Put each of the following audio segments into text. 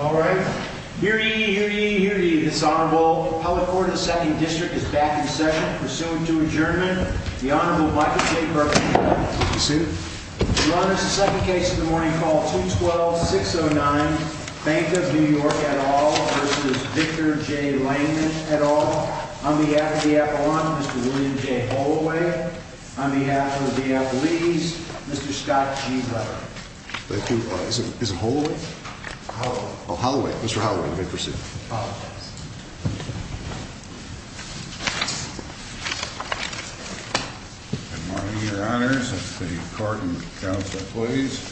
All right. Hear ye, hear ye, hear ye, this Honorable. Public Court of the 2nd District is back in session. Pursuant to adjournment, the Honorable Michael J. Burkhead. Be seated. Your Honor, it's the second case of the morning called 212-609, Bank of New York, et al. v. Victor J. Langman, et al. On behalf of the Apollon, Mr. William J. Holloway. On behalf of the Diapolese, Mr. Scott G. Butler. Thank you. Is it Holloway? Holloway. Oh, Holloway. Mr. Holloway, you may proceed. All right. Good morning, Your Honors. It's the Court and the Counsel, please.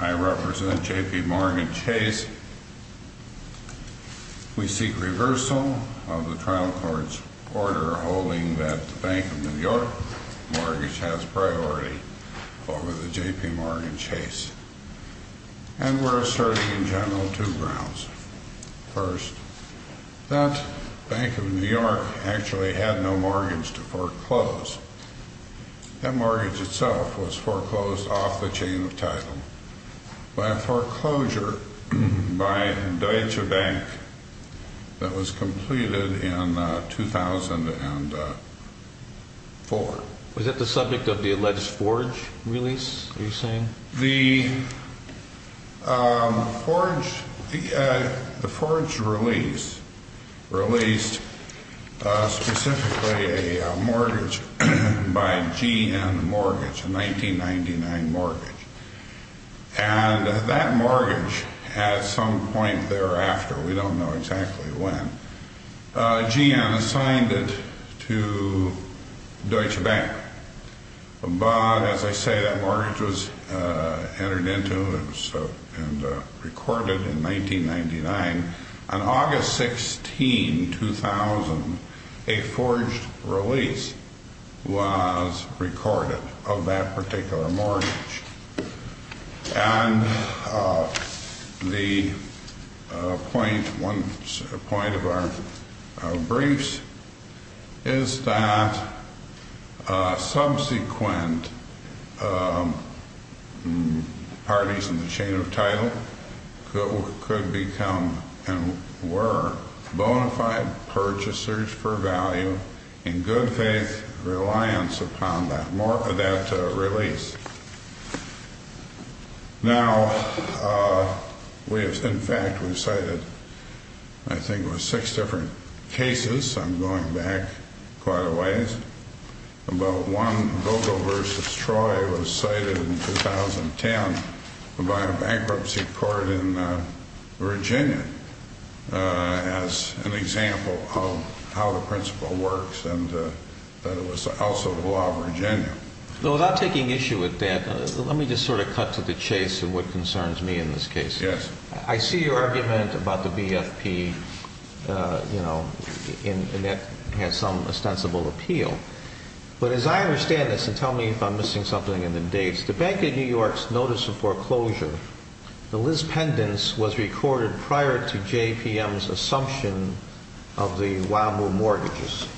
I represent JPMorgan Chase. We seek reversal of the trial court's order holding that the Bank of New York mortgage has priority. Over the JPMorgan Chase. And we're asserting in general two grounds. First, that Bank of New York actually had no mortgage to foreclose. That mortgage itself was foreclosed off the chain of title. By a foreclosure by Deutsche Bank that was completed in 2004. Was that the subject of the alleged forge release, are you saying? The forge release released specifically a mortgage by GN Mortgage, a 1999 mortgage. And that mortgage, at some point thereafter, we don't know exactly when, GN assigned it to Deutsche Bank. But, as I say, that mortgage was entered into and recorded in 1999. On August 16, 2000, a forged release was recorded of that particular mortgage. And the point of our briefs is that subsequent parties in the chain of title could become and were bonafide purchasers for value in good faith reliance upon that release. Now, in fact, we've cited, I think it was six different cases. I'm going back quite a ways. But one, Vogel v. Troy, was cited in 2010 by a bankruptcy court in Virginia as an example of how the principle works and that it was also the law of Virginia. Now, without taking issue with that, let me just sort of cut to the chase and what concerns me in this case. I see your argument about the BFP, and that has some ostensible appeal. But as I understand this, and tell me if I'm missing something in the dates, the Bank of New York's notice of foreclosure, the Liz Pendence, was recorded prior to JPM's assumption of the Wahoo mortgages.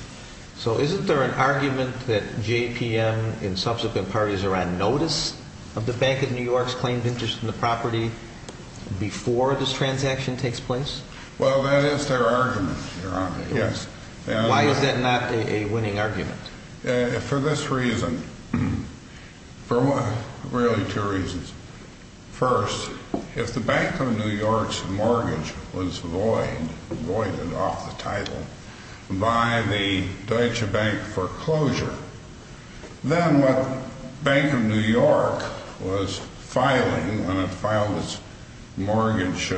So isn't there an argument that JPM and subsequent parties are on notice of the Bank of New York's claimed interest in the property? Before this transaction takes place? Well, that is their argument, Your Honor, yes. Why is that not a winning argument? For this reason. For really two reasons. First, if the Bank of New York's mortgage was void, voided off the title, by the Deutsche Bank foreclosure, then what Bank of New York was filing when it filed its mortgage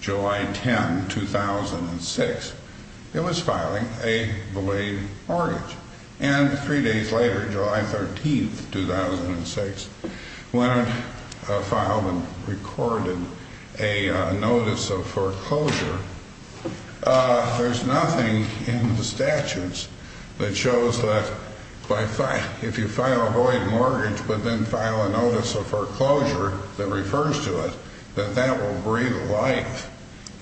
July 10, 2006, it was filing a belayed mortgage. And three days later, July 13, 2006, when it filed and recorded a notice of foreclosure, there's nothing in the statutes that shows that if you file a void mortgage but then file a notice of foreclosure that refers to it, that that will breathe life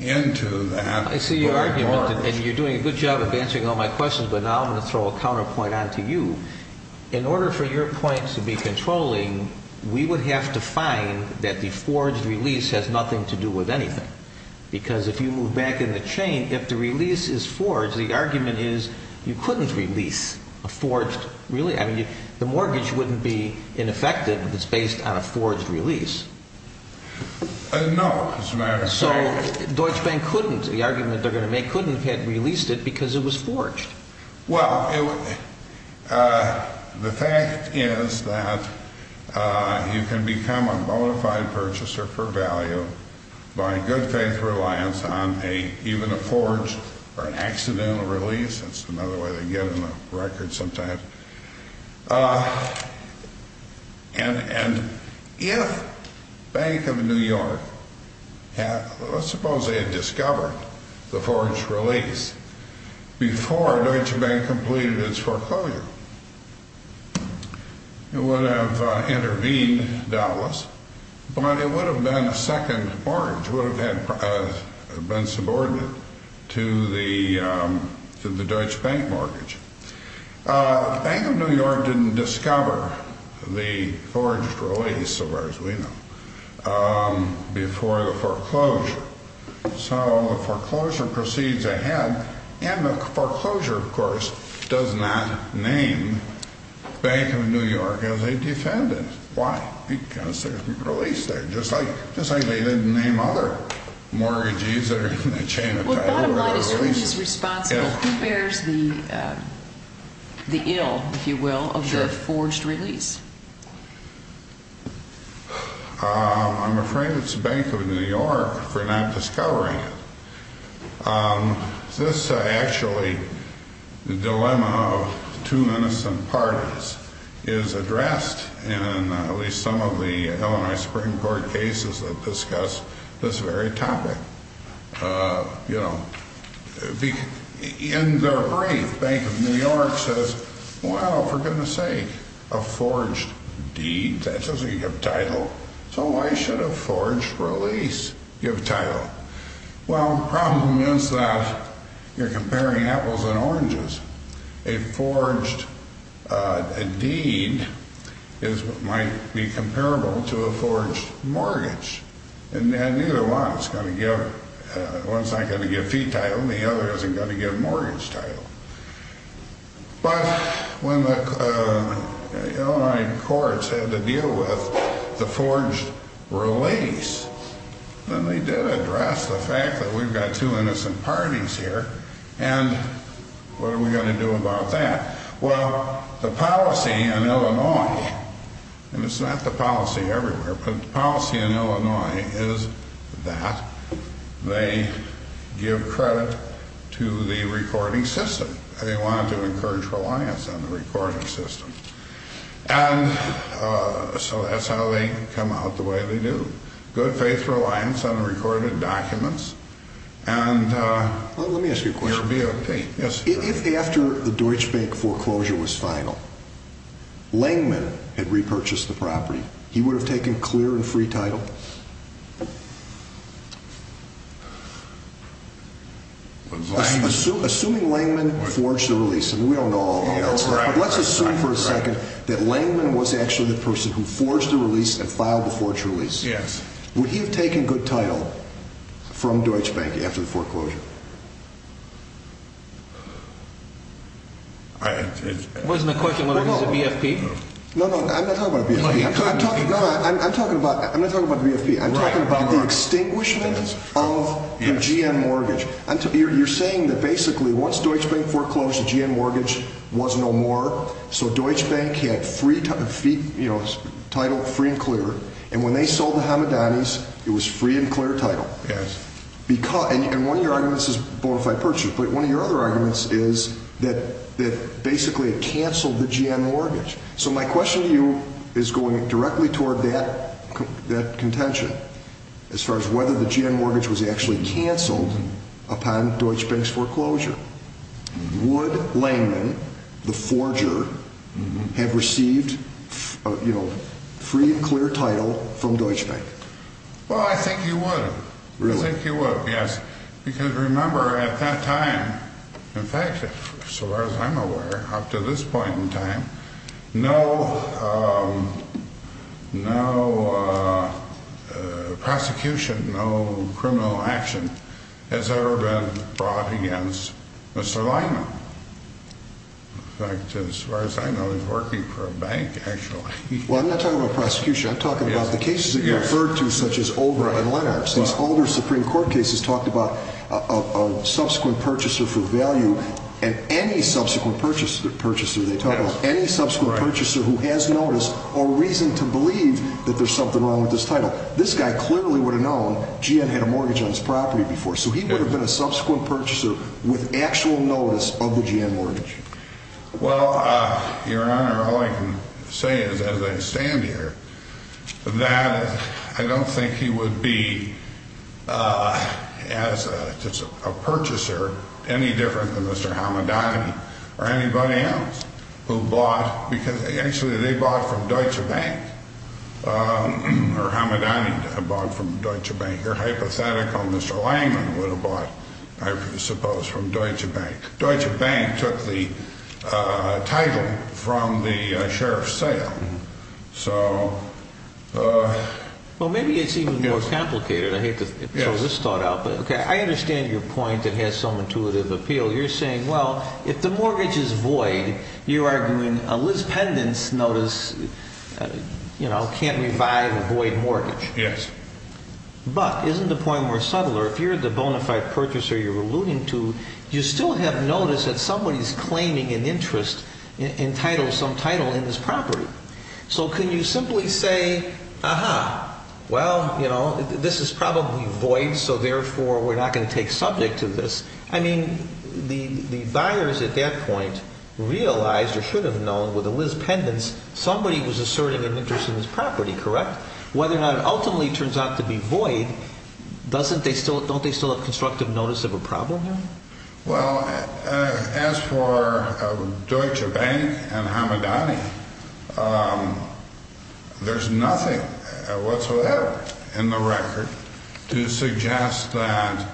into that void mortgage. I see your argument, and you're doing a good job of answering all my questions, but now I'm going to throw a counterpoint on to you. In order for your points to be controlling, we would have to find that the forged release has nothing to do with anything. Because if you move back in the chain, if the release is forged, the argument is you couldn't release a forged release. The mortgage wouldn't be ineffective if it's based on a forged release. No, Mr. Mayor. So Deutsche Bank couldn't, the argument they're going to make, couldn't have released it because it was forged. Well, the fact is that you can become a bona fide purchaser for value by good faith reliance on even a forged or an accidental release. That's another way they get on the record sometimes. And if Bank of New York had, let's suppose they had discovered the forged release before Deutsche Bank completed its foreclosure, it would have intervened, doubtless, but it would have been a second mortgage. It would have been subordinate to the Deutsche Bank mortgage. Bank of New York didn't discover the forged release, so far as we know, before the foreclosure. So the foreclosure proceeds ahead, and the foreclosure, of course, does not name Bank of New York as a defendant. Why? Because there's no release there, just like they didn't name other mortgages that are in the chain of title. Bottom line is, who is responsible? Who bears the ill, if you will, of the forged release? I'm afraid it's Bank of New York for not discovering it. This actually, the dilemma of two innocent parties, is addressed in at least some of the Illinois Supreme Court cases that discuss this very topic. In their brief, Bank of New York says, well, for goodness sake, a forged deed, that doesn't give title. So why should a forged release give title? Well, the problem is that you're comparing apples and oranges. A forged deed might be comparable to a forged mortgage. And neither one is going to give, one's not going to give fee title, and the other isn't going to give mortgage title. But when the Illinois courts had to deal with the forged release, then they did address the fact that we've got two innocent parties here. And what are we going to do about that? Well, the policy in Illinois, and it's not the policy everywhere, but the policy in Illinois is that they give credit to the recording system. They want to encourage reliance on the recording system. And so that's how they come out the way they do. Good faith reliance on the recorded documents. Let me ask you a question. If after the Deutsche Bank foreclosure was final, Langeman had repurchased the property, he would have taken clear and free title? Assuming Langeman forged the release, and we don't know all the details, but let's assume for a second that Langeman was actually the person who forged the release and filed the forged release. Yes. Would he have taken good title from Deutsche Bank after the foreclosure? Wasn't the question whether it was a BFP? No, no, I'm not talking about a BFP. I'm talking about the extinguishment of the GN mortgage. You're saying that basically once Deutsche Bank foreclosed, the GN mortgage was no more, so Deutsche Bank had title free and clear. And when they sold the Hamadanis, it was free and clear title. Yes. And one of your arguments is bona fide purchase, but one of your other arguments is that basically it canceled the GN mortgage. So my question to you is going directly toward that contention as far as whether the GN mortgage was actually canceled upon Deutsche Bank's foreclosure. Would Langeman, the forger, have received free and clear title from Deutsche Bank? Well, I think he would. Really? I think he would, yes, because remember at that time, in fact, as far as I'm aware, up to this point in time, no prosecution, no criminal action has ever been brought against Mr. Langeman. In fact, as far as I know, he's working for a bank actually. Well, I'm not talking about prosecution. I'm talking about the cases that you referred to such as Obra and Lenhart. These older Supreme Court cases talked about a subsequent purchaser for value and any subsequent purchaser they talk about, any subsequent purchaser who has notice or reason to believe that there's something wrong with his title. This guy clearly would have known GN had a mortgage on his property before, so he would have been a subsequent purchaser with actual notice of the GN mortgage. Well, Your Honor, all I can say is, as I stand here, that I don't think he would be, as a purchaser, any different than Mr. Hamadani or anybody else who bought, because actually they bought from Deutsche Bank, or Hamadani bought from Deutsche Bank, or hypothetical Mr. Langeman would have bought, I suppose, from Deutsche Bank. Deutsche Bank took the title from the sheriff's sale. Well, maybe it's even more complicated. I hate to throw this thought out, but I understand your point that has some intuitive appeal. You're saying, well, if the mortgage is void, you're arguing a Liz Pendence notice can't revive a void mortgage. Yes. But isn't the point more subtle? If you're the bona fide purchaser you're alluding to, you still have notice that somebody's claiming an interest in title, some title in his property. So can you simply say, aha, well, you know, this is probably void, so therefore we're not going to take subject to this. I mean, the buyers at that point realized or should have known with a Liz Pendence somebody was asserting an interest in his property, correct? But whether or not it ultimately turns out to be void, don't they still have constructive notice of a problem there? Well, as for Deutsche Bank and Hamadani, there's nothing whatsoever in the record to suggest that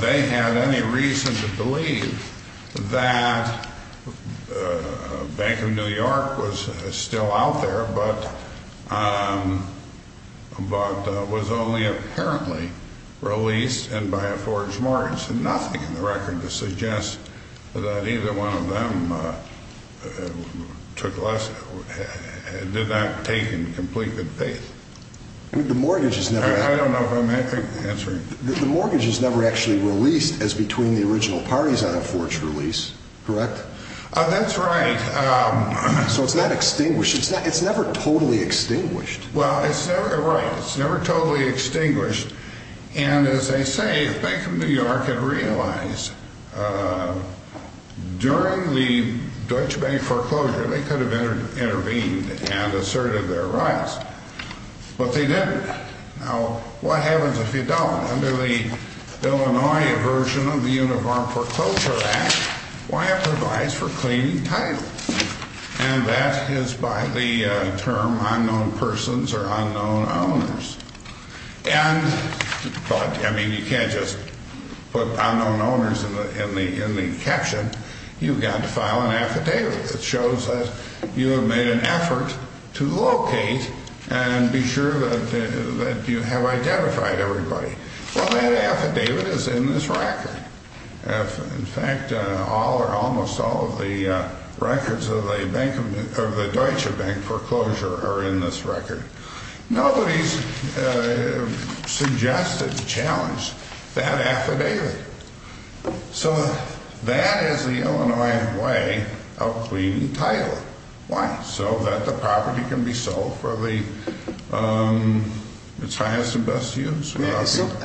they had any reason to believe that Bank of New York was still out there, but was only apparently released and by a forged mortgage. There's nothing in the record to suggest that either one of them did not take in complete good faith. I don't know if I'm answering. The mortgage is never actually released as between the original parties on a forged release, correct? That's right. So it's not extinguished. It's never totally extinguished. Well, it's never, right, it's never totally extinguished. And as they say, Bank of New York had realized during the Deutsche Bank foreclosure they could have intervened and asserted their rights, but they didn't. Now, what happens if you don't? Under the Illinois version of the Uniform Foreclosure Act, why improvise for claiming title? And that is by the term unknown persons or unknown owners. And, but, I mean, you can't just put unknown owners in the caption. You've got to file an affidavit that shows that you have made an effort to locate and be sure that you have identified everybody. Well, that affidavit is in this record. In fact, all or almost all of the records of the Deutsche Bank foreclosure are in this record. Nobody's suggested to challenge that affidavit. So that is the Illinois way of claiming title. Why? So that the property can be sold for its highest and best use.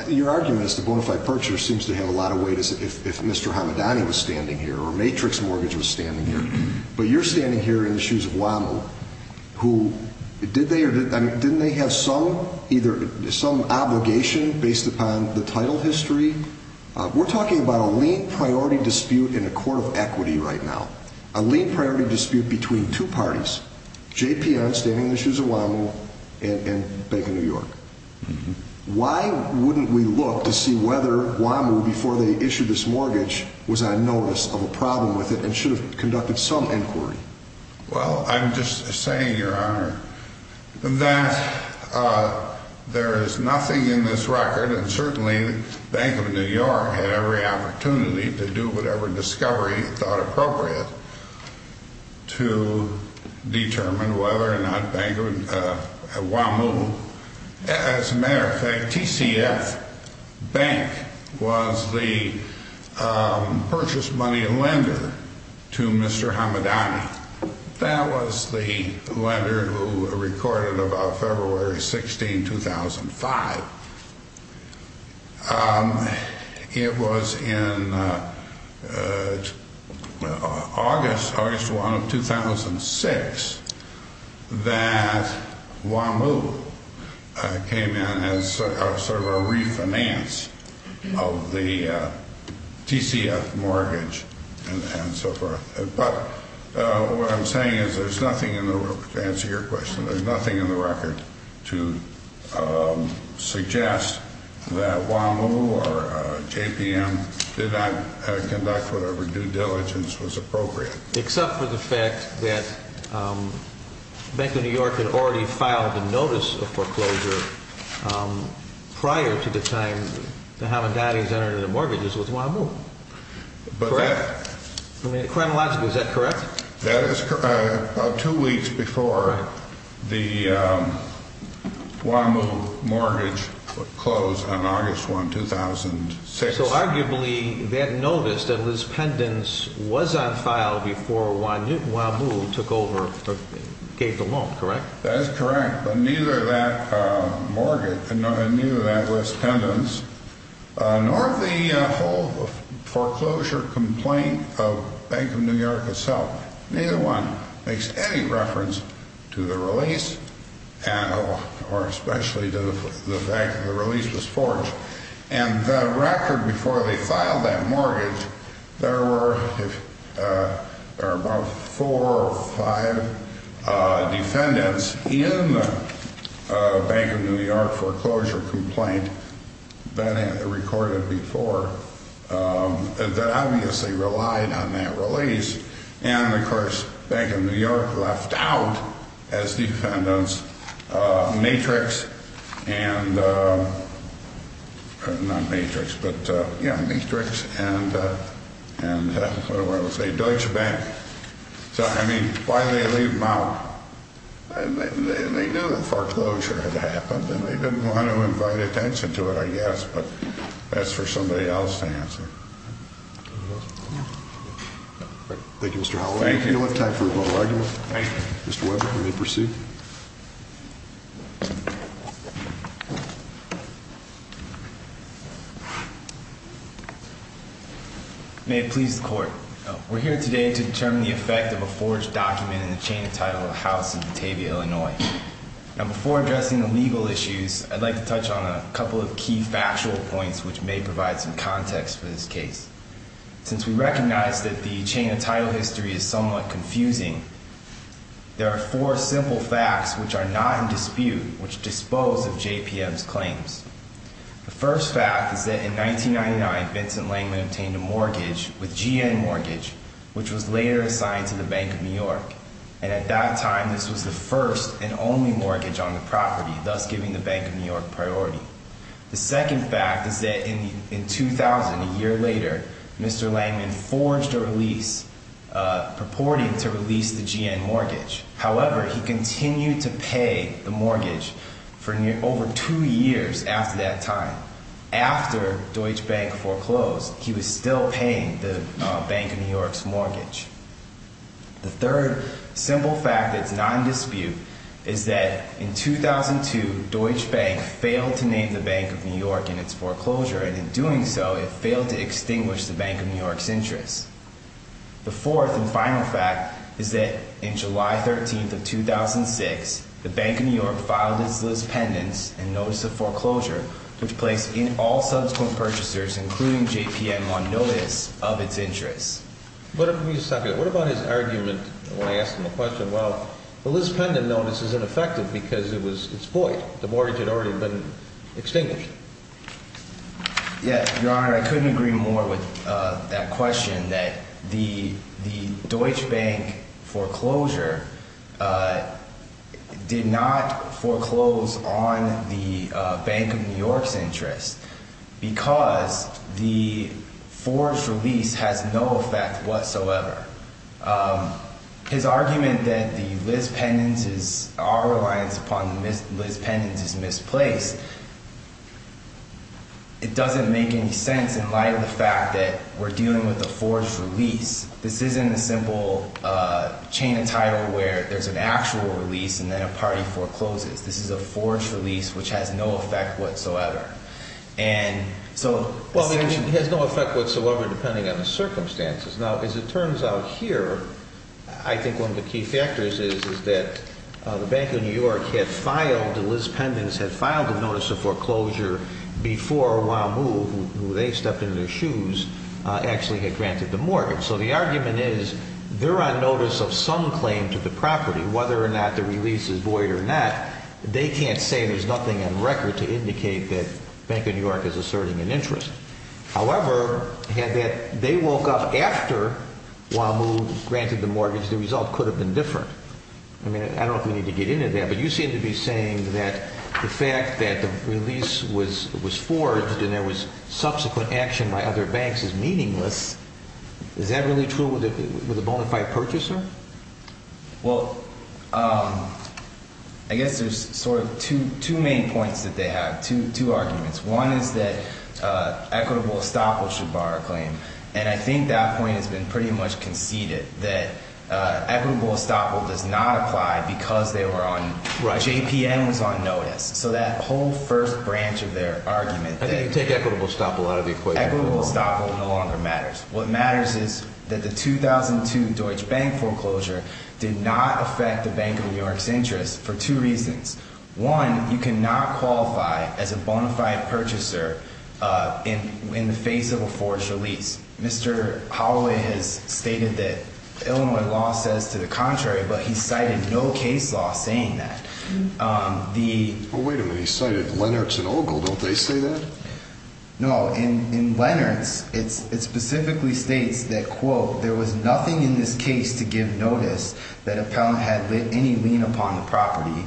Your argument is the bona fide purchaser seems to have a lot of weight if Mr. Hamadani was standing here or Matrix Mortgage was standing here. But you're standing here in the shoes of WAMU, who, did they or didn't they have some either, some obligation based upon the title history? We're talking about a lien priority dispute in a court of equity right now. A lien priority dispute between two parties, JPR standing in the shoes of WAMU and Bank of New York. Why wouldn't we look to see whether WAMU, before they issued this mortgage, was on notice of a problem with it and should have conducted some inquiry? Well, I'm just saying, Your Honor, that there is nothing in this record, and certainly Bank of New York had every opportunity to do whatever discovery it thought appropriate to determine whether or not WAMU, as a matter of fact, TCF Bank was the purchase money lender to Mr. Hamadani. That was the lender who recorded about February 16, 2005. It was in August, August 1 of 2006, that WAMU came in as sort of a refinance of the TCF mortgage and so forth. But what I'm saying is there's nothing in the record, to answer your question, there's nothing in the record to suggest that WAMU or JPM did not conduct whatever due diligence was appropriate. Except for the fact that Bank of New York had already filed a notice of foreclosure prior to the time the Hamadanis entered into the mortgages with WAMU. Correct? I mean, chronologically, is that correct? That is correct. About two weeks before the WAMU mortgage closed on August 1, 2006. So, arguably, they had noticed that this pendants was on file before WAMU took over, gave the loan, correct? That is correct. But neither that mortgage, and neither that list pendants, nor the whole foreclosure complaint of Bank of New York itself, neither one, makes any reference to the release, or especially to the fact that the release was forged. And the record before they filed that mortgage, there were about four or five defendants in the Bank of New York foreclosure complaint that had been recorded before that obviously relied on that release. And, of course, Bank of New York left out, as defendants, Matrix and Deutsche Bank. So, I mean, why did they leave them out? And they knew that foreclosure had happened, and they didn't want to invite attention to it, I guess, but that's for somebody else to answer. Thank you, Mr. Howell. We don't have time for a vote. Mr. Weber, will you proceed? May it please the court. We're here today to determine the effect of a forged document in the chain of title of a house in Batavia, Illinois. Now, before addressing the legal issues, I'd like to touch on a couple of key factual points which may provide some context for this case. Since we recognize that the chain of title history is somewhat confusing, there are four simple facts which are not in dispute, which dispose of JPM's claims. The first fact is that in 1999, Vincent Langman obtained a mortgage with GN Mortgage, which was later assigned to the Bank of New York. And at that time, this was the first and only mortgage on the property, thus giving the Bank of New York priority. The second fact is that in 2000, a year later, Mr. Langman forged a release purporting to release the GN Mortgage. However, he continued to pay the mortgage for over two years after that time. After Deutsche Bank foreclosed, he was still paying the Bank of New York's mortgage. The third simple fact that's not in dispute is that in 2002, Deutsche Bank failed to name the Bank of New York in its foreclosure. And in doing so, it failed to extinguish the Bank of New York's interest. The fourth and final fact is that in July 13th of 2006, the Bank of New York filed its list pendants and notice of foreclosure, which placed all subsequent purchasers, including JPM, on notice of its interest. What about his argument when I asked him the question, well, this pendant notice is ineffective because it's void. The mortgage had already been extinguished. Yes, Your Honor, I couldn't agree more with that question, that the Deutsche Bank foreclosure did not foreclose on the Bank of New York's interest because the forged release has no effect whatsoever. His argument that the list pendants, our reliance upon list pendants is misplaced, it doesn't make any sense in light of the fact that we're dealing with a forged release. This isn't a simple chain of title where there's an actual release and then a party forecloses. This is a forged release, which has no effect whatsoever. Well, it has no effect whatsoever depending on the circumstances. Now, as it turns out here, I think one of the key factors is that the Bank of New York had filed, the list pendants had filed a notice of foreclosure before WAMU, who they stepped in their shoes, actually had granted the mortgage. So the argument is they're on notice of some claim to the property, whether or not the release is void or not, they can't say there's nothing on record to indicate that Bank of New York is asserting an interest. However, had they woke up after WAMU granted the mortgage, the result could have been different. I mean, I don't know if we need to get into that, but you seem to be saying that the fact that the release was forged and there was subsequent action by other banks is meaningless. Is that really true with a bona fide purchaser? Well, I guess there's sort of two main points that they have, two arguments. One is that equitable estoppel should bar a claim, and I think that point has been pretty much conceded, that equitable estoppel does not apply because they were on – JPM was on notice. So that whole first branch of their argument that – I think you take equitable estoppel out of the equation. Equitable estoppel no longer matters. What matters is that the 2002 Deutsche Bank foreclosure did not affect the Bank of New York's interest for two reasons. One, you cannot qualify as a bona fide purchaser in the face of a forged release. Mr. Holloway has stated that Illinois law says to the contrary, but he cited no case law saying that. The – Well, wait a minute. He cited Lennox and Ogle. Don't they say that? No. In Lennox, it specifically states that, quote, there was nothing in this case to give notice that a pal had lit any lien upon the property.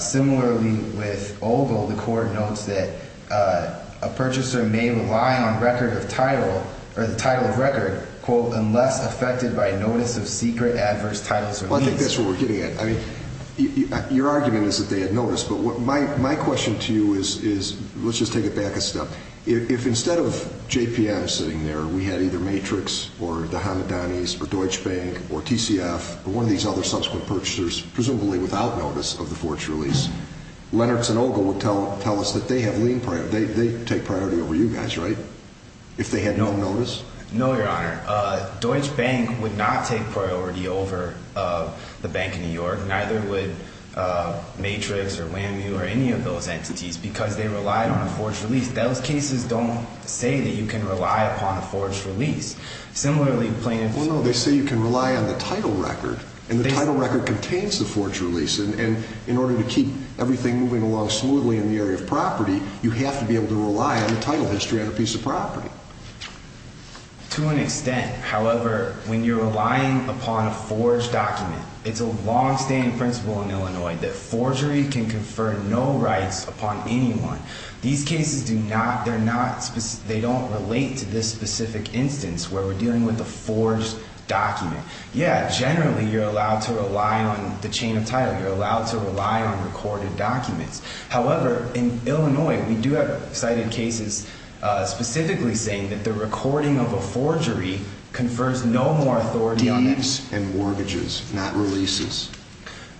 Similarly, with Ogle, the court notes that a purchaser may rely on record of title or the title of record, quote, unless affected by notice of secret adverse titles or liens. Well, I think that's where we're getting at. I mean, your argument is that they had notice, but my question to you is – let's just take it back a step. If instead of JPM sitting there, we had either Matrix or the Hanadanis or Deutsche Bank or TCF or one of these other subsequent purchasers, presumably without notice of the forged release, Lennox and Ogle would tell us that they have lien – they take priority over you guys, right, if they had no notice? No, Your Honor. Deutsche Bank would not take priority over the Bank of New York. Neither would Matrix or WAMU or any of those entities because they relied on a forged release. Those cases don't say that you can rely upon a forged release. Similarly, plaintiffs – Well, no, they say you can rely on the title record, and the title record contains the forged release. And in order to keep everything moving along smoothly in the area of property, you have to be able to rely on the title history on a piece of property. To an extent, however, when you're relying upon a forged document, it's a long-standing principle in Illinois that forgery can confer no rights upon anyone. These cases do not – they're not – they don't relate to this specific instance where we're dealing with a forged document. Yeah, generally, you're allowed to rely on the chain of title. You're allowed to rely on recorded documents. However, in Illinois, we do have cited cases specifically saying that the recording of a forgery confers no more authority on – Deeds and mortgages, not releases.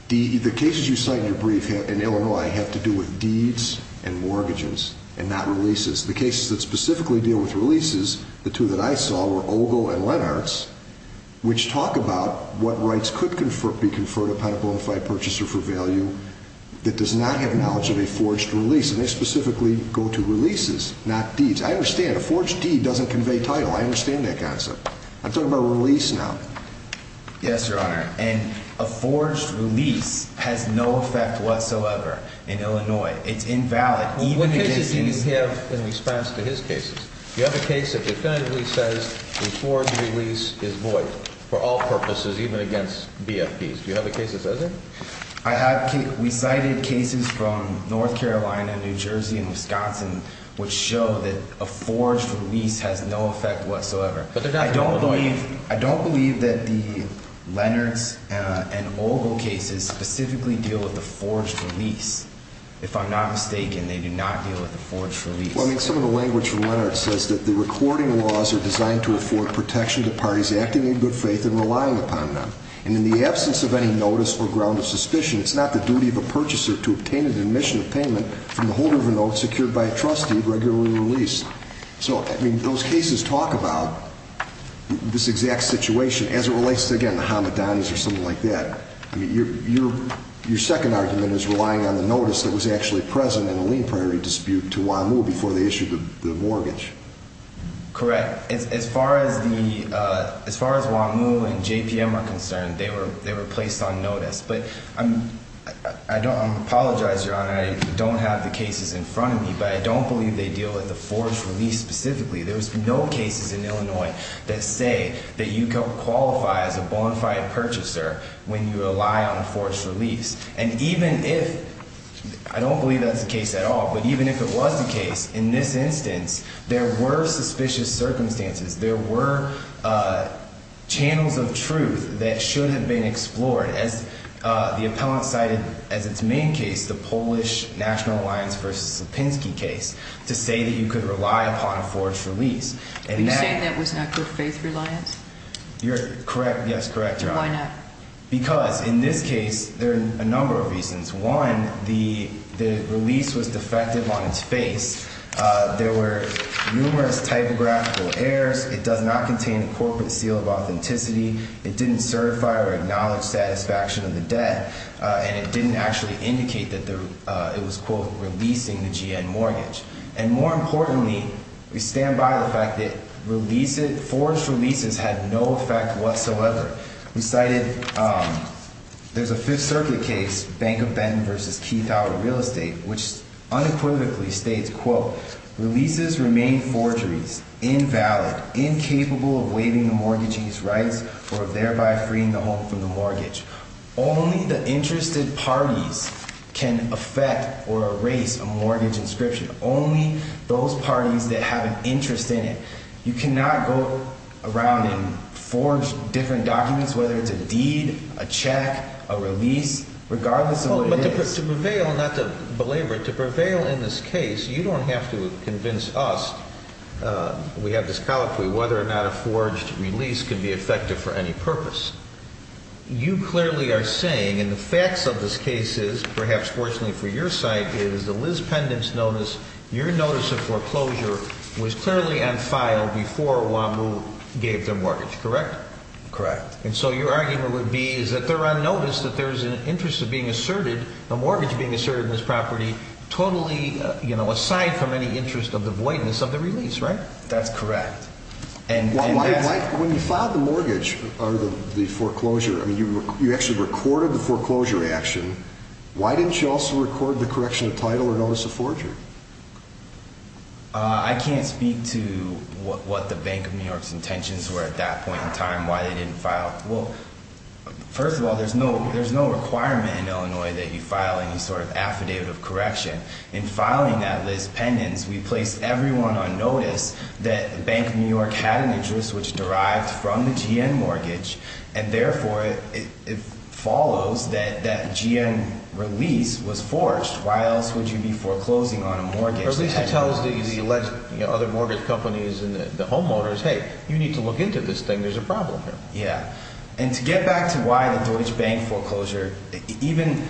The cases you cite in your brief in Illinois have to do with deeds and mortgages and not releases. The cases that specifically deal with releases, the two that I saw, were Ogle and Lenartz, which talk about what rights could be conferred upon a bonafide purchaser for value that does not have knowledge of a forged release. And they specifically go to releases, not deeds. I understand. A forged deed doesn't convey title. I understand that concept. I'm talking about a release now. Yes, Your Honor. And a forged release has no effect whatsoever in Illinois. It's invalid. What cases do you have in response to his cases? You have a case that definitively says the forged release is void for all purposes, even against BFPs. Do you have a case that says that? I have – we cited cases from North Carolina, New Jersey, and Wisconsin, which show that a forged release has no effect whatsoever. But they're not in Illinois. I don't believe that the Lenartz and Ogle cases specifically deal with the forged release. If I'm not mistaken, they do not deal with the forged release. Well, I mean, some of the language from Lenartz says that the recording laws are designed to afford protection to parties acting in good faith and relying upon them. And in the absence of any notice or ground of suspicion, it's not the duty of a purchaser to obtain an admission of payment from the holder of a note secured by a trustee regularly released. So, I mean, those cases talk about this exact situation as it relates to, again, the Hamadanis or something like that. I mean, your second argument is relying on the notice that was actually present in the lien priority dispute to WAMU before they issued the mortgage. Correct. As far as WAMU and JPM are concerned, they were placed on notice. But I apologize, Your Honor, I don't have the cases in front of me, but I don't believe they deal with the forged release specifically. There was no cases in Illinois that say that you qualify as a bonfire purchaser when you rely on a forged release. And even if I don't believe that's the case at all, but even if it was the case, in this instance, there were suspicious circumstances. There were channels of truth that should have been explored. As the appellant cited as its main case, the Polish National Alliance v. Slepinski case, to say that you could rely upon a forged release. Are you saying that was not good faith reliance? You're correct. Yes, correct, Your Honor. Why not? Because in this case, there are a number of reasons. One, the release was defective on its face. There were numerous typographical errors. It does not contain a corporate seal of authenticity. It didn't certify or acknowledge satisfaction of the debt. And it didn't actually indicate that it was, quote, releasing the GN mortgage. And more importantly, we stand by the fact that forged releases had no effect whatsoever. We cited, there's a Fifth Circuit case, Bank of Benton v. Keith Howard Real Estate, which unequivocally states, quote, Only the interested parties can affect or erase a mortgage inscription. Only those parties that have an interest in it. You cannot go around and forge different documents, whether it's a deed, a check, a release, regardless of what it is. But to prevail, not to belabor, to prevail in this case, you don't have to convince us, we have this colloquy, whether or not a forged release can be effective for any purpose. You clearly are saying, and the facts of this case is, perhaps fortunately for your side, is that Liz Pendent's notice, your notice of foreclosure, was clearly on file before WAMU gave their mortgage, correct? Correct. And so your argument would be, is that they're on notice that there's an interest of being asserted, a mortgage being asserted on this property, totally, you know, aside from any interest of the voidness of the release, right? That's correct. When you filed the mortgage, or the foreclosure, I mean, you actually recorded the foreclosure action. Why didn't you also record the correction of title or notice of forgery? I can't speak to what the Bank of New York's intentions were at that point in time, why they didn't file. Well, first of all, there's no requirement in Illinois that you file any sort of affidavit of correction. In filing that, Liz Pendent's, we placed everyone on notice that Bank of New York had an interest which derived from the GN mortgage, and therefore it follows that that GN release was forged. Why else would you be foreclosing on a mortgage? At least it tells the other mortgage companies and the homeowners, hey, you need to look into this thing. There's a problem here. Yeah. And to get back to why the Deutsche Bank foreclosure, even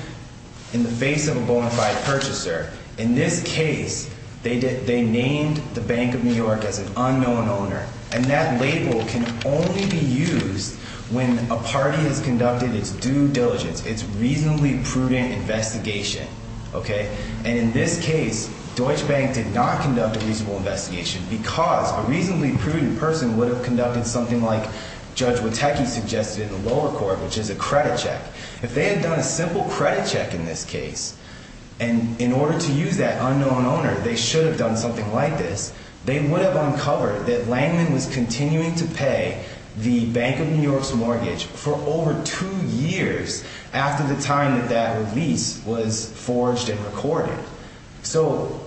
in the face of a bona fide purchaser, in this case, they named the Bank of New York as an unknown owner, and that label can only be used when a party has conducted its due diligence, its reasonably prudent investigation, okay? And in this case, Deutsche Bank did not conduct a reasonable investigation because a reasonably prudent person would have conducted something like Judge Witecki suggested in the lower court, which is a credit check. If they had done a simple credit check in this case, and in order to use that unknown owner, they should have done something like this, they would have uncovered that Langman was continuing to pay the Bank of New York's mortgage for over two years after the time that that release was forged and recorded. So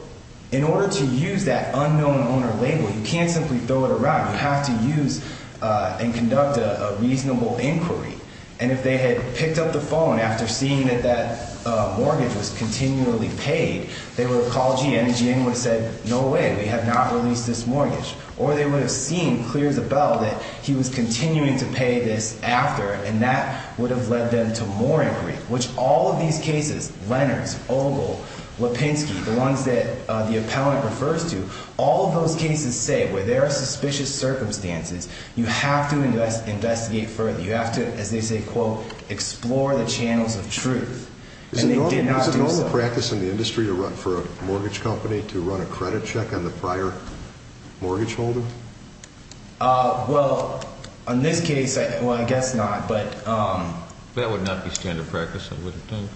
in order to use that unknown owner label, you can't simply throw it around. You have to use and conduct a reasonable inquiry. And if they had picked up the phone after seeing that that mortgage was continually paid, they would have called GM and GM would have said, no way, we have not released this mortgage. Or they would have seen clear as a bell that he was continuing to pay this after, and that would have led them to more inquiry, which all of these cases, Lennard's, Ogle, Lipinski, the ones that the appellant refers to, all of those cases say where there are suspicious circumstances, you have to investigate further. You have to, as they say, quote, explore the channels of truth. Is it normal practice in the industry to run for a mortgage company to run a credit check on the prior mortgage holder? Well, in this case, well, I guess not, but. That would not be standard practice, I wouldn't think.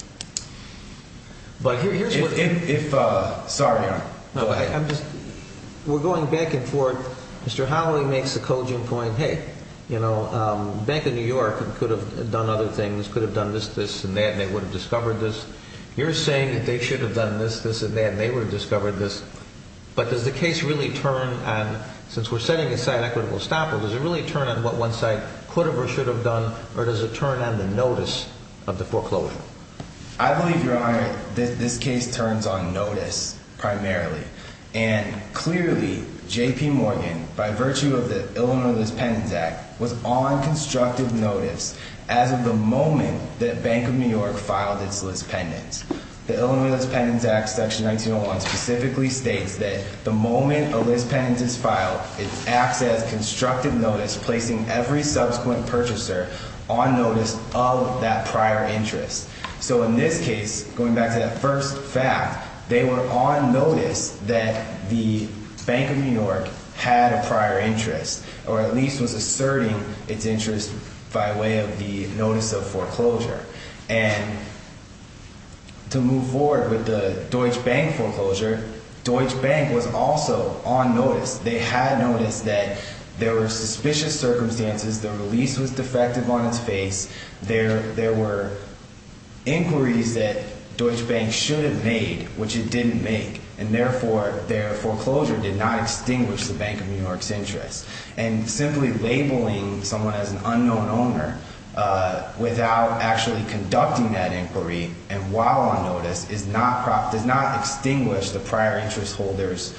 But here's what. If, sorry. No, go ahead. We're going back and forth. Mr. Holloway makes the coging point, hey, you know, Bank of New York could have done other things, could have done this, this, and that, and they would have discovered this. You're saying that they should have done this, this, and that, and they would have discovered this. But does the case really turn on, since we're setting aside equitable estoppel, does it really turn on what one side could have or should have done, or does it turn on the notice of the foreclosure? I believe, Your Honor, that this case turns on notice primarily. And clearly, J.P. Morgan, by virtue of the Illinois Dispense Act, was on constructive notice as of the moment that Bank of New York filed its list pendants. The Illinois List Pendants Act, Section 1901, specifically states that the moment a list pendant is filed, it acts as constructive notice, placing every subsequent purchaser on notice of that prior interest. So in this case, going back to that first fact, they were on notice that the Bank of New York had a prior interest, or at least was asserting its interest by way of the notice of foreclosure. And to move forward with the Deutsche Bank foreclosure, Deutsche Bank was also on notice. They had noticed that there were suspicious circumstances, the release was defective on its face, there were inquiries that Deutsche Bank should have made, which it didn't make, and therefore their foreclosure did not extinguish the Bank of New York's interest. And simply labeling someone as an unknown owner without actually conducting that inquiry and while on notice does not extinguish the prior interest holder's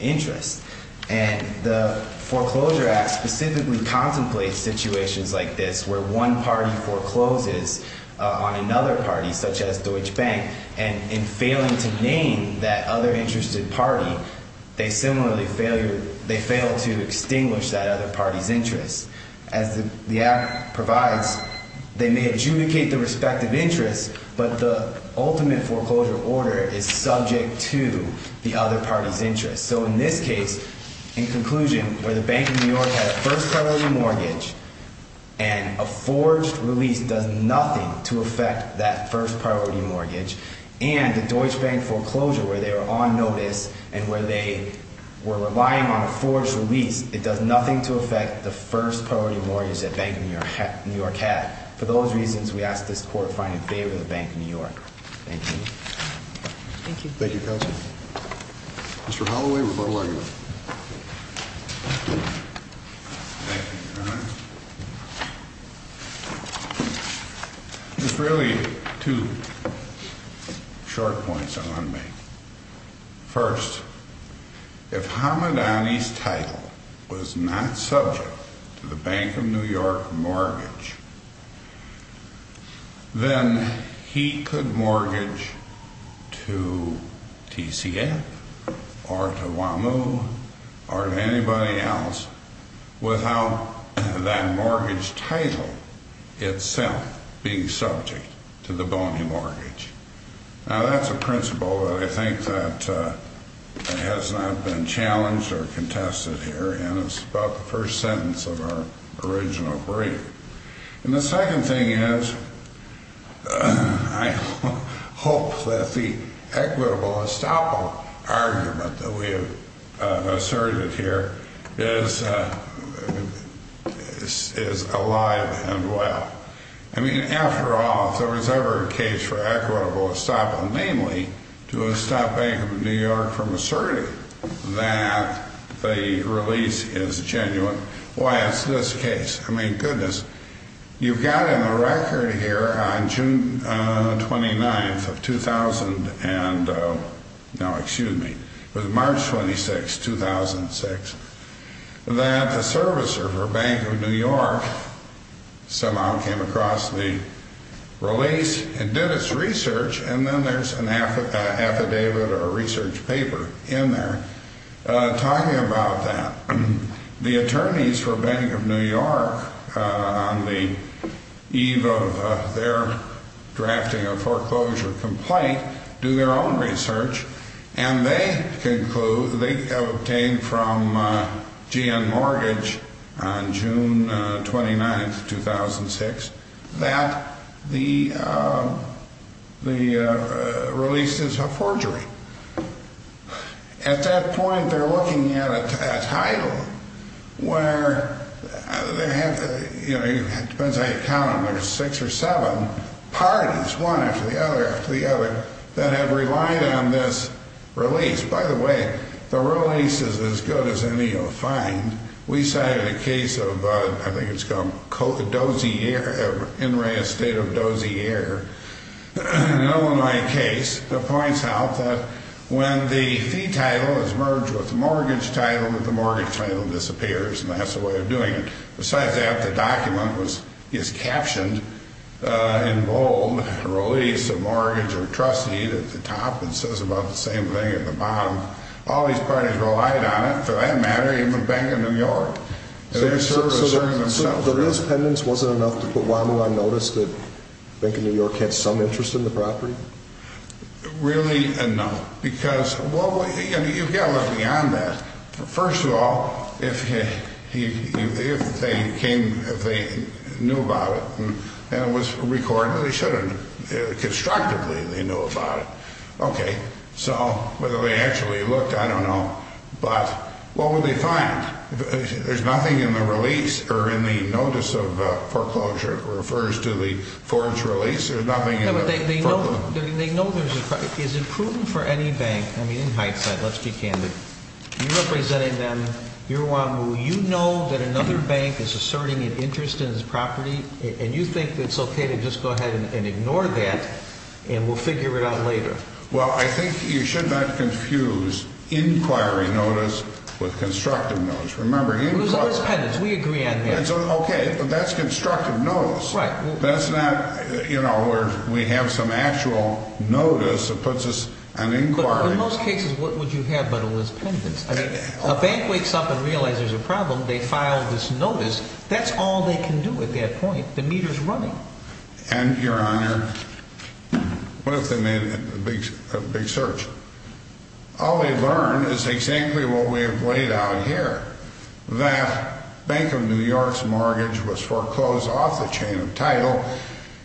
interest. And the Foreclosure Act specifically contemplates situations like this, where one party forecloses on another party, such as Deutsche Bank, and in failing to name that other interested party, they similarly fail to extinguish that other party's interest. As the Act provides, they may adjudicate their respective interests, but the ultimate foreclosure order is subject to the other party's interest. So in this case, in conclusion, where the Bank of New York had a first priority mortgage and a forged release does nothing to affect that first priority mortgage, and the Deutsche Bank foreclosure where they were on notice and where they were relying on a forged release, it does nothing to affect the first priority mortgage that Bank of New York had. For those reasons, we ask this Court find it in favor of the Bank of New York. Thank you. Thank you. Thank you, counsel. Mr. Holloway, rebuttal argument. Thank you, Your Honor. There's really two short points I want to make. First, if Hamadani's title was not subject to the Bank of New York mortgage, then he could mortgage to TCF or to WAMU or to anybody else without that mortgage title itself being subject to the bony mortgage. Now, that's a principle that I think that has not been challenged or contested here, and it's about the first sentence of our original brief. And the second thing is I hope that the equitable estoppel argument that we have asserted here is alive and well. I mean, after all, if there was ever a case for equitable estoppel, namely to estop Bank of New York from asserting that the release is genuine, why is this the case? I mean, goodness, you've got in the record here on June 29th of 2000, no, excuse me, it was March 26th, 2006, that the servicer for Bank of New York somehow came across the release and did its research and then there's an affidavit or a research paper in there talking about that. The attorneys for Bank of New York on the eve of their drafting a foreclosure complaint do their own research and they conclude, they obtained from GN Mortgage on June 29th, 2006, that the release is a forgery. At that point, they're looking at a title where, you know, it depends how you count them, six or seven parties, one after the other after the other, that have relied on this release. By the way, the release is as good as any you'll find. We cited a case of, I think it's called Dozier, In Re Estate of Dozier, an Illinois case, that points out that when the fee title is merged with the mortgage title, that the mortgage title disappears and that's the way of doing it. Besides that, the document is captioned in bold, release of mortgage or trust deed at the top and says about the same thing at the bottom. All these parties relied on it, for that matter, even Bank of New York. They're asserting themselves. So the real dependence wasn't enough to put WAMU on notice that Bank of New York had some interest in the property? Really, no. Because, well, you've got to look beyond that. First of all, if they knew about it and it was recorded, they should have. Constructively, they knew about it. Okay. So whether they actually looked, I don't know. But what would they find? There's nothing in the release or in the notice of foreclosure that refers to the Ford's release. There's nothing in the foreclosure. No, but they know there's a property. Is it proven for any bank? I mean, in hindsight, let's be candid. You're representing them. You're WAMU. You know that another bank is asserting an interest in this property, and you think it's okay to just go ahead and ignore that and we'll figure it out later. Well, I think you should not confuse inquiry notice with constructive notice. Remember, inquiry notice. It was always pendants. We agree on that. Okay, but that's constructive notice. Right. That's not, you know, where we have some actual notice that puts us on inquiry. In most cases, what would you have but it was pendants? I mean, a bank wakes up and realizes there's a problem. They file this notice. That's all they can do at that point. The meter's running. And, Your Honor, what if they made a big search? All they learned is exactly what we have laid out here, that Bank of New York's mortgage was foreclosed off the chain of title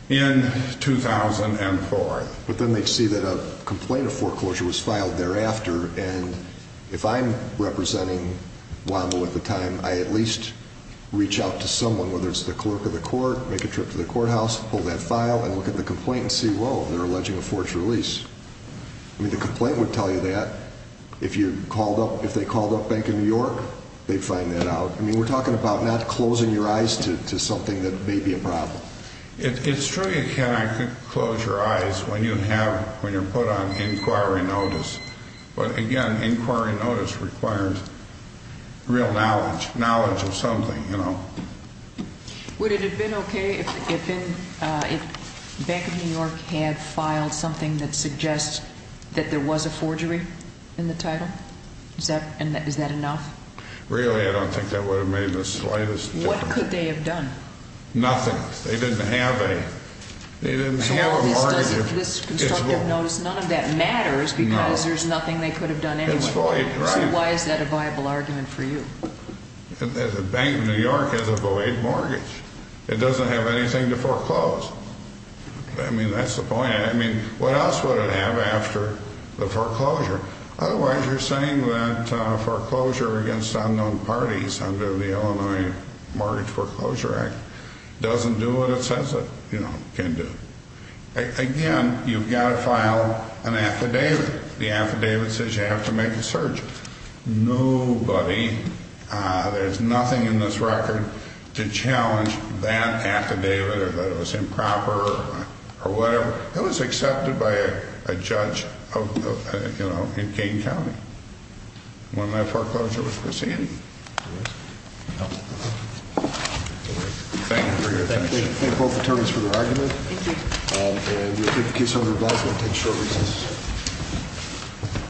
in 2004. But then they'd see that a complaint of foreclosure was filed thereafter, and if I'm representing WAMU at the time, I at least reach out to someone, whether it's the clerk of the court, make a trip to the courthouse, pull that file and look at the complaint and see, whoa, they're alleging a forged release. I mean, the complaint would tell you that. If they called up Bank of New York, they'd find that out. I mean, we're talking about not closing your eyes to something that may be a problem. It's true you could close your eyes when you're put on inquiry notice. But, again, inquiry notice requires real knowledge, knowledge of something, you know. Would it have been okay if Bank of New York had filed something that suggests that there was a forgery in the title? Is that enough? Really, I don't think that would have made the slightest difference. What could they have done? Nothing. They didn't have a mortgage. This constructive notice, none of that matters because there's nothing they could have done anyway. So why is that a viable argument for you? Bank of New York has a void mortgage. It doesn't have anything to foreclose. I mean, that's the point. I mean, what else would it have after the foreclosure? Otherwise, you're saying that foreclosure against unknown parties under the Illinois Mortgage Foreclosure Act doesn't do what it says it can do. Again, you've got to file an affidavit. The affidavit says you have to make a search. Nobody, there's nothing in this record to challenge that affidavit or that it was improper or whatever. It was accepted by a judge in Kane County when that foreclosure was presented. Thank you for your attention. Thank both attorneys for their argument. Thank you. And we'll take the case under review.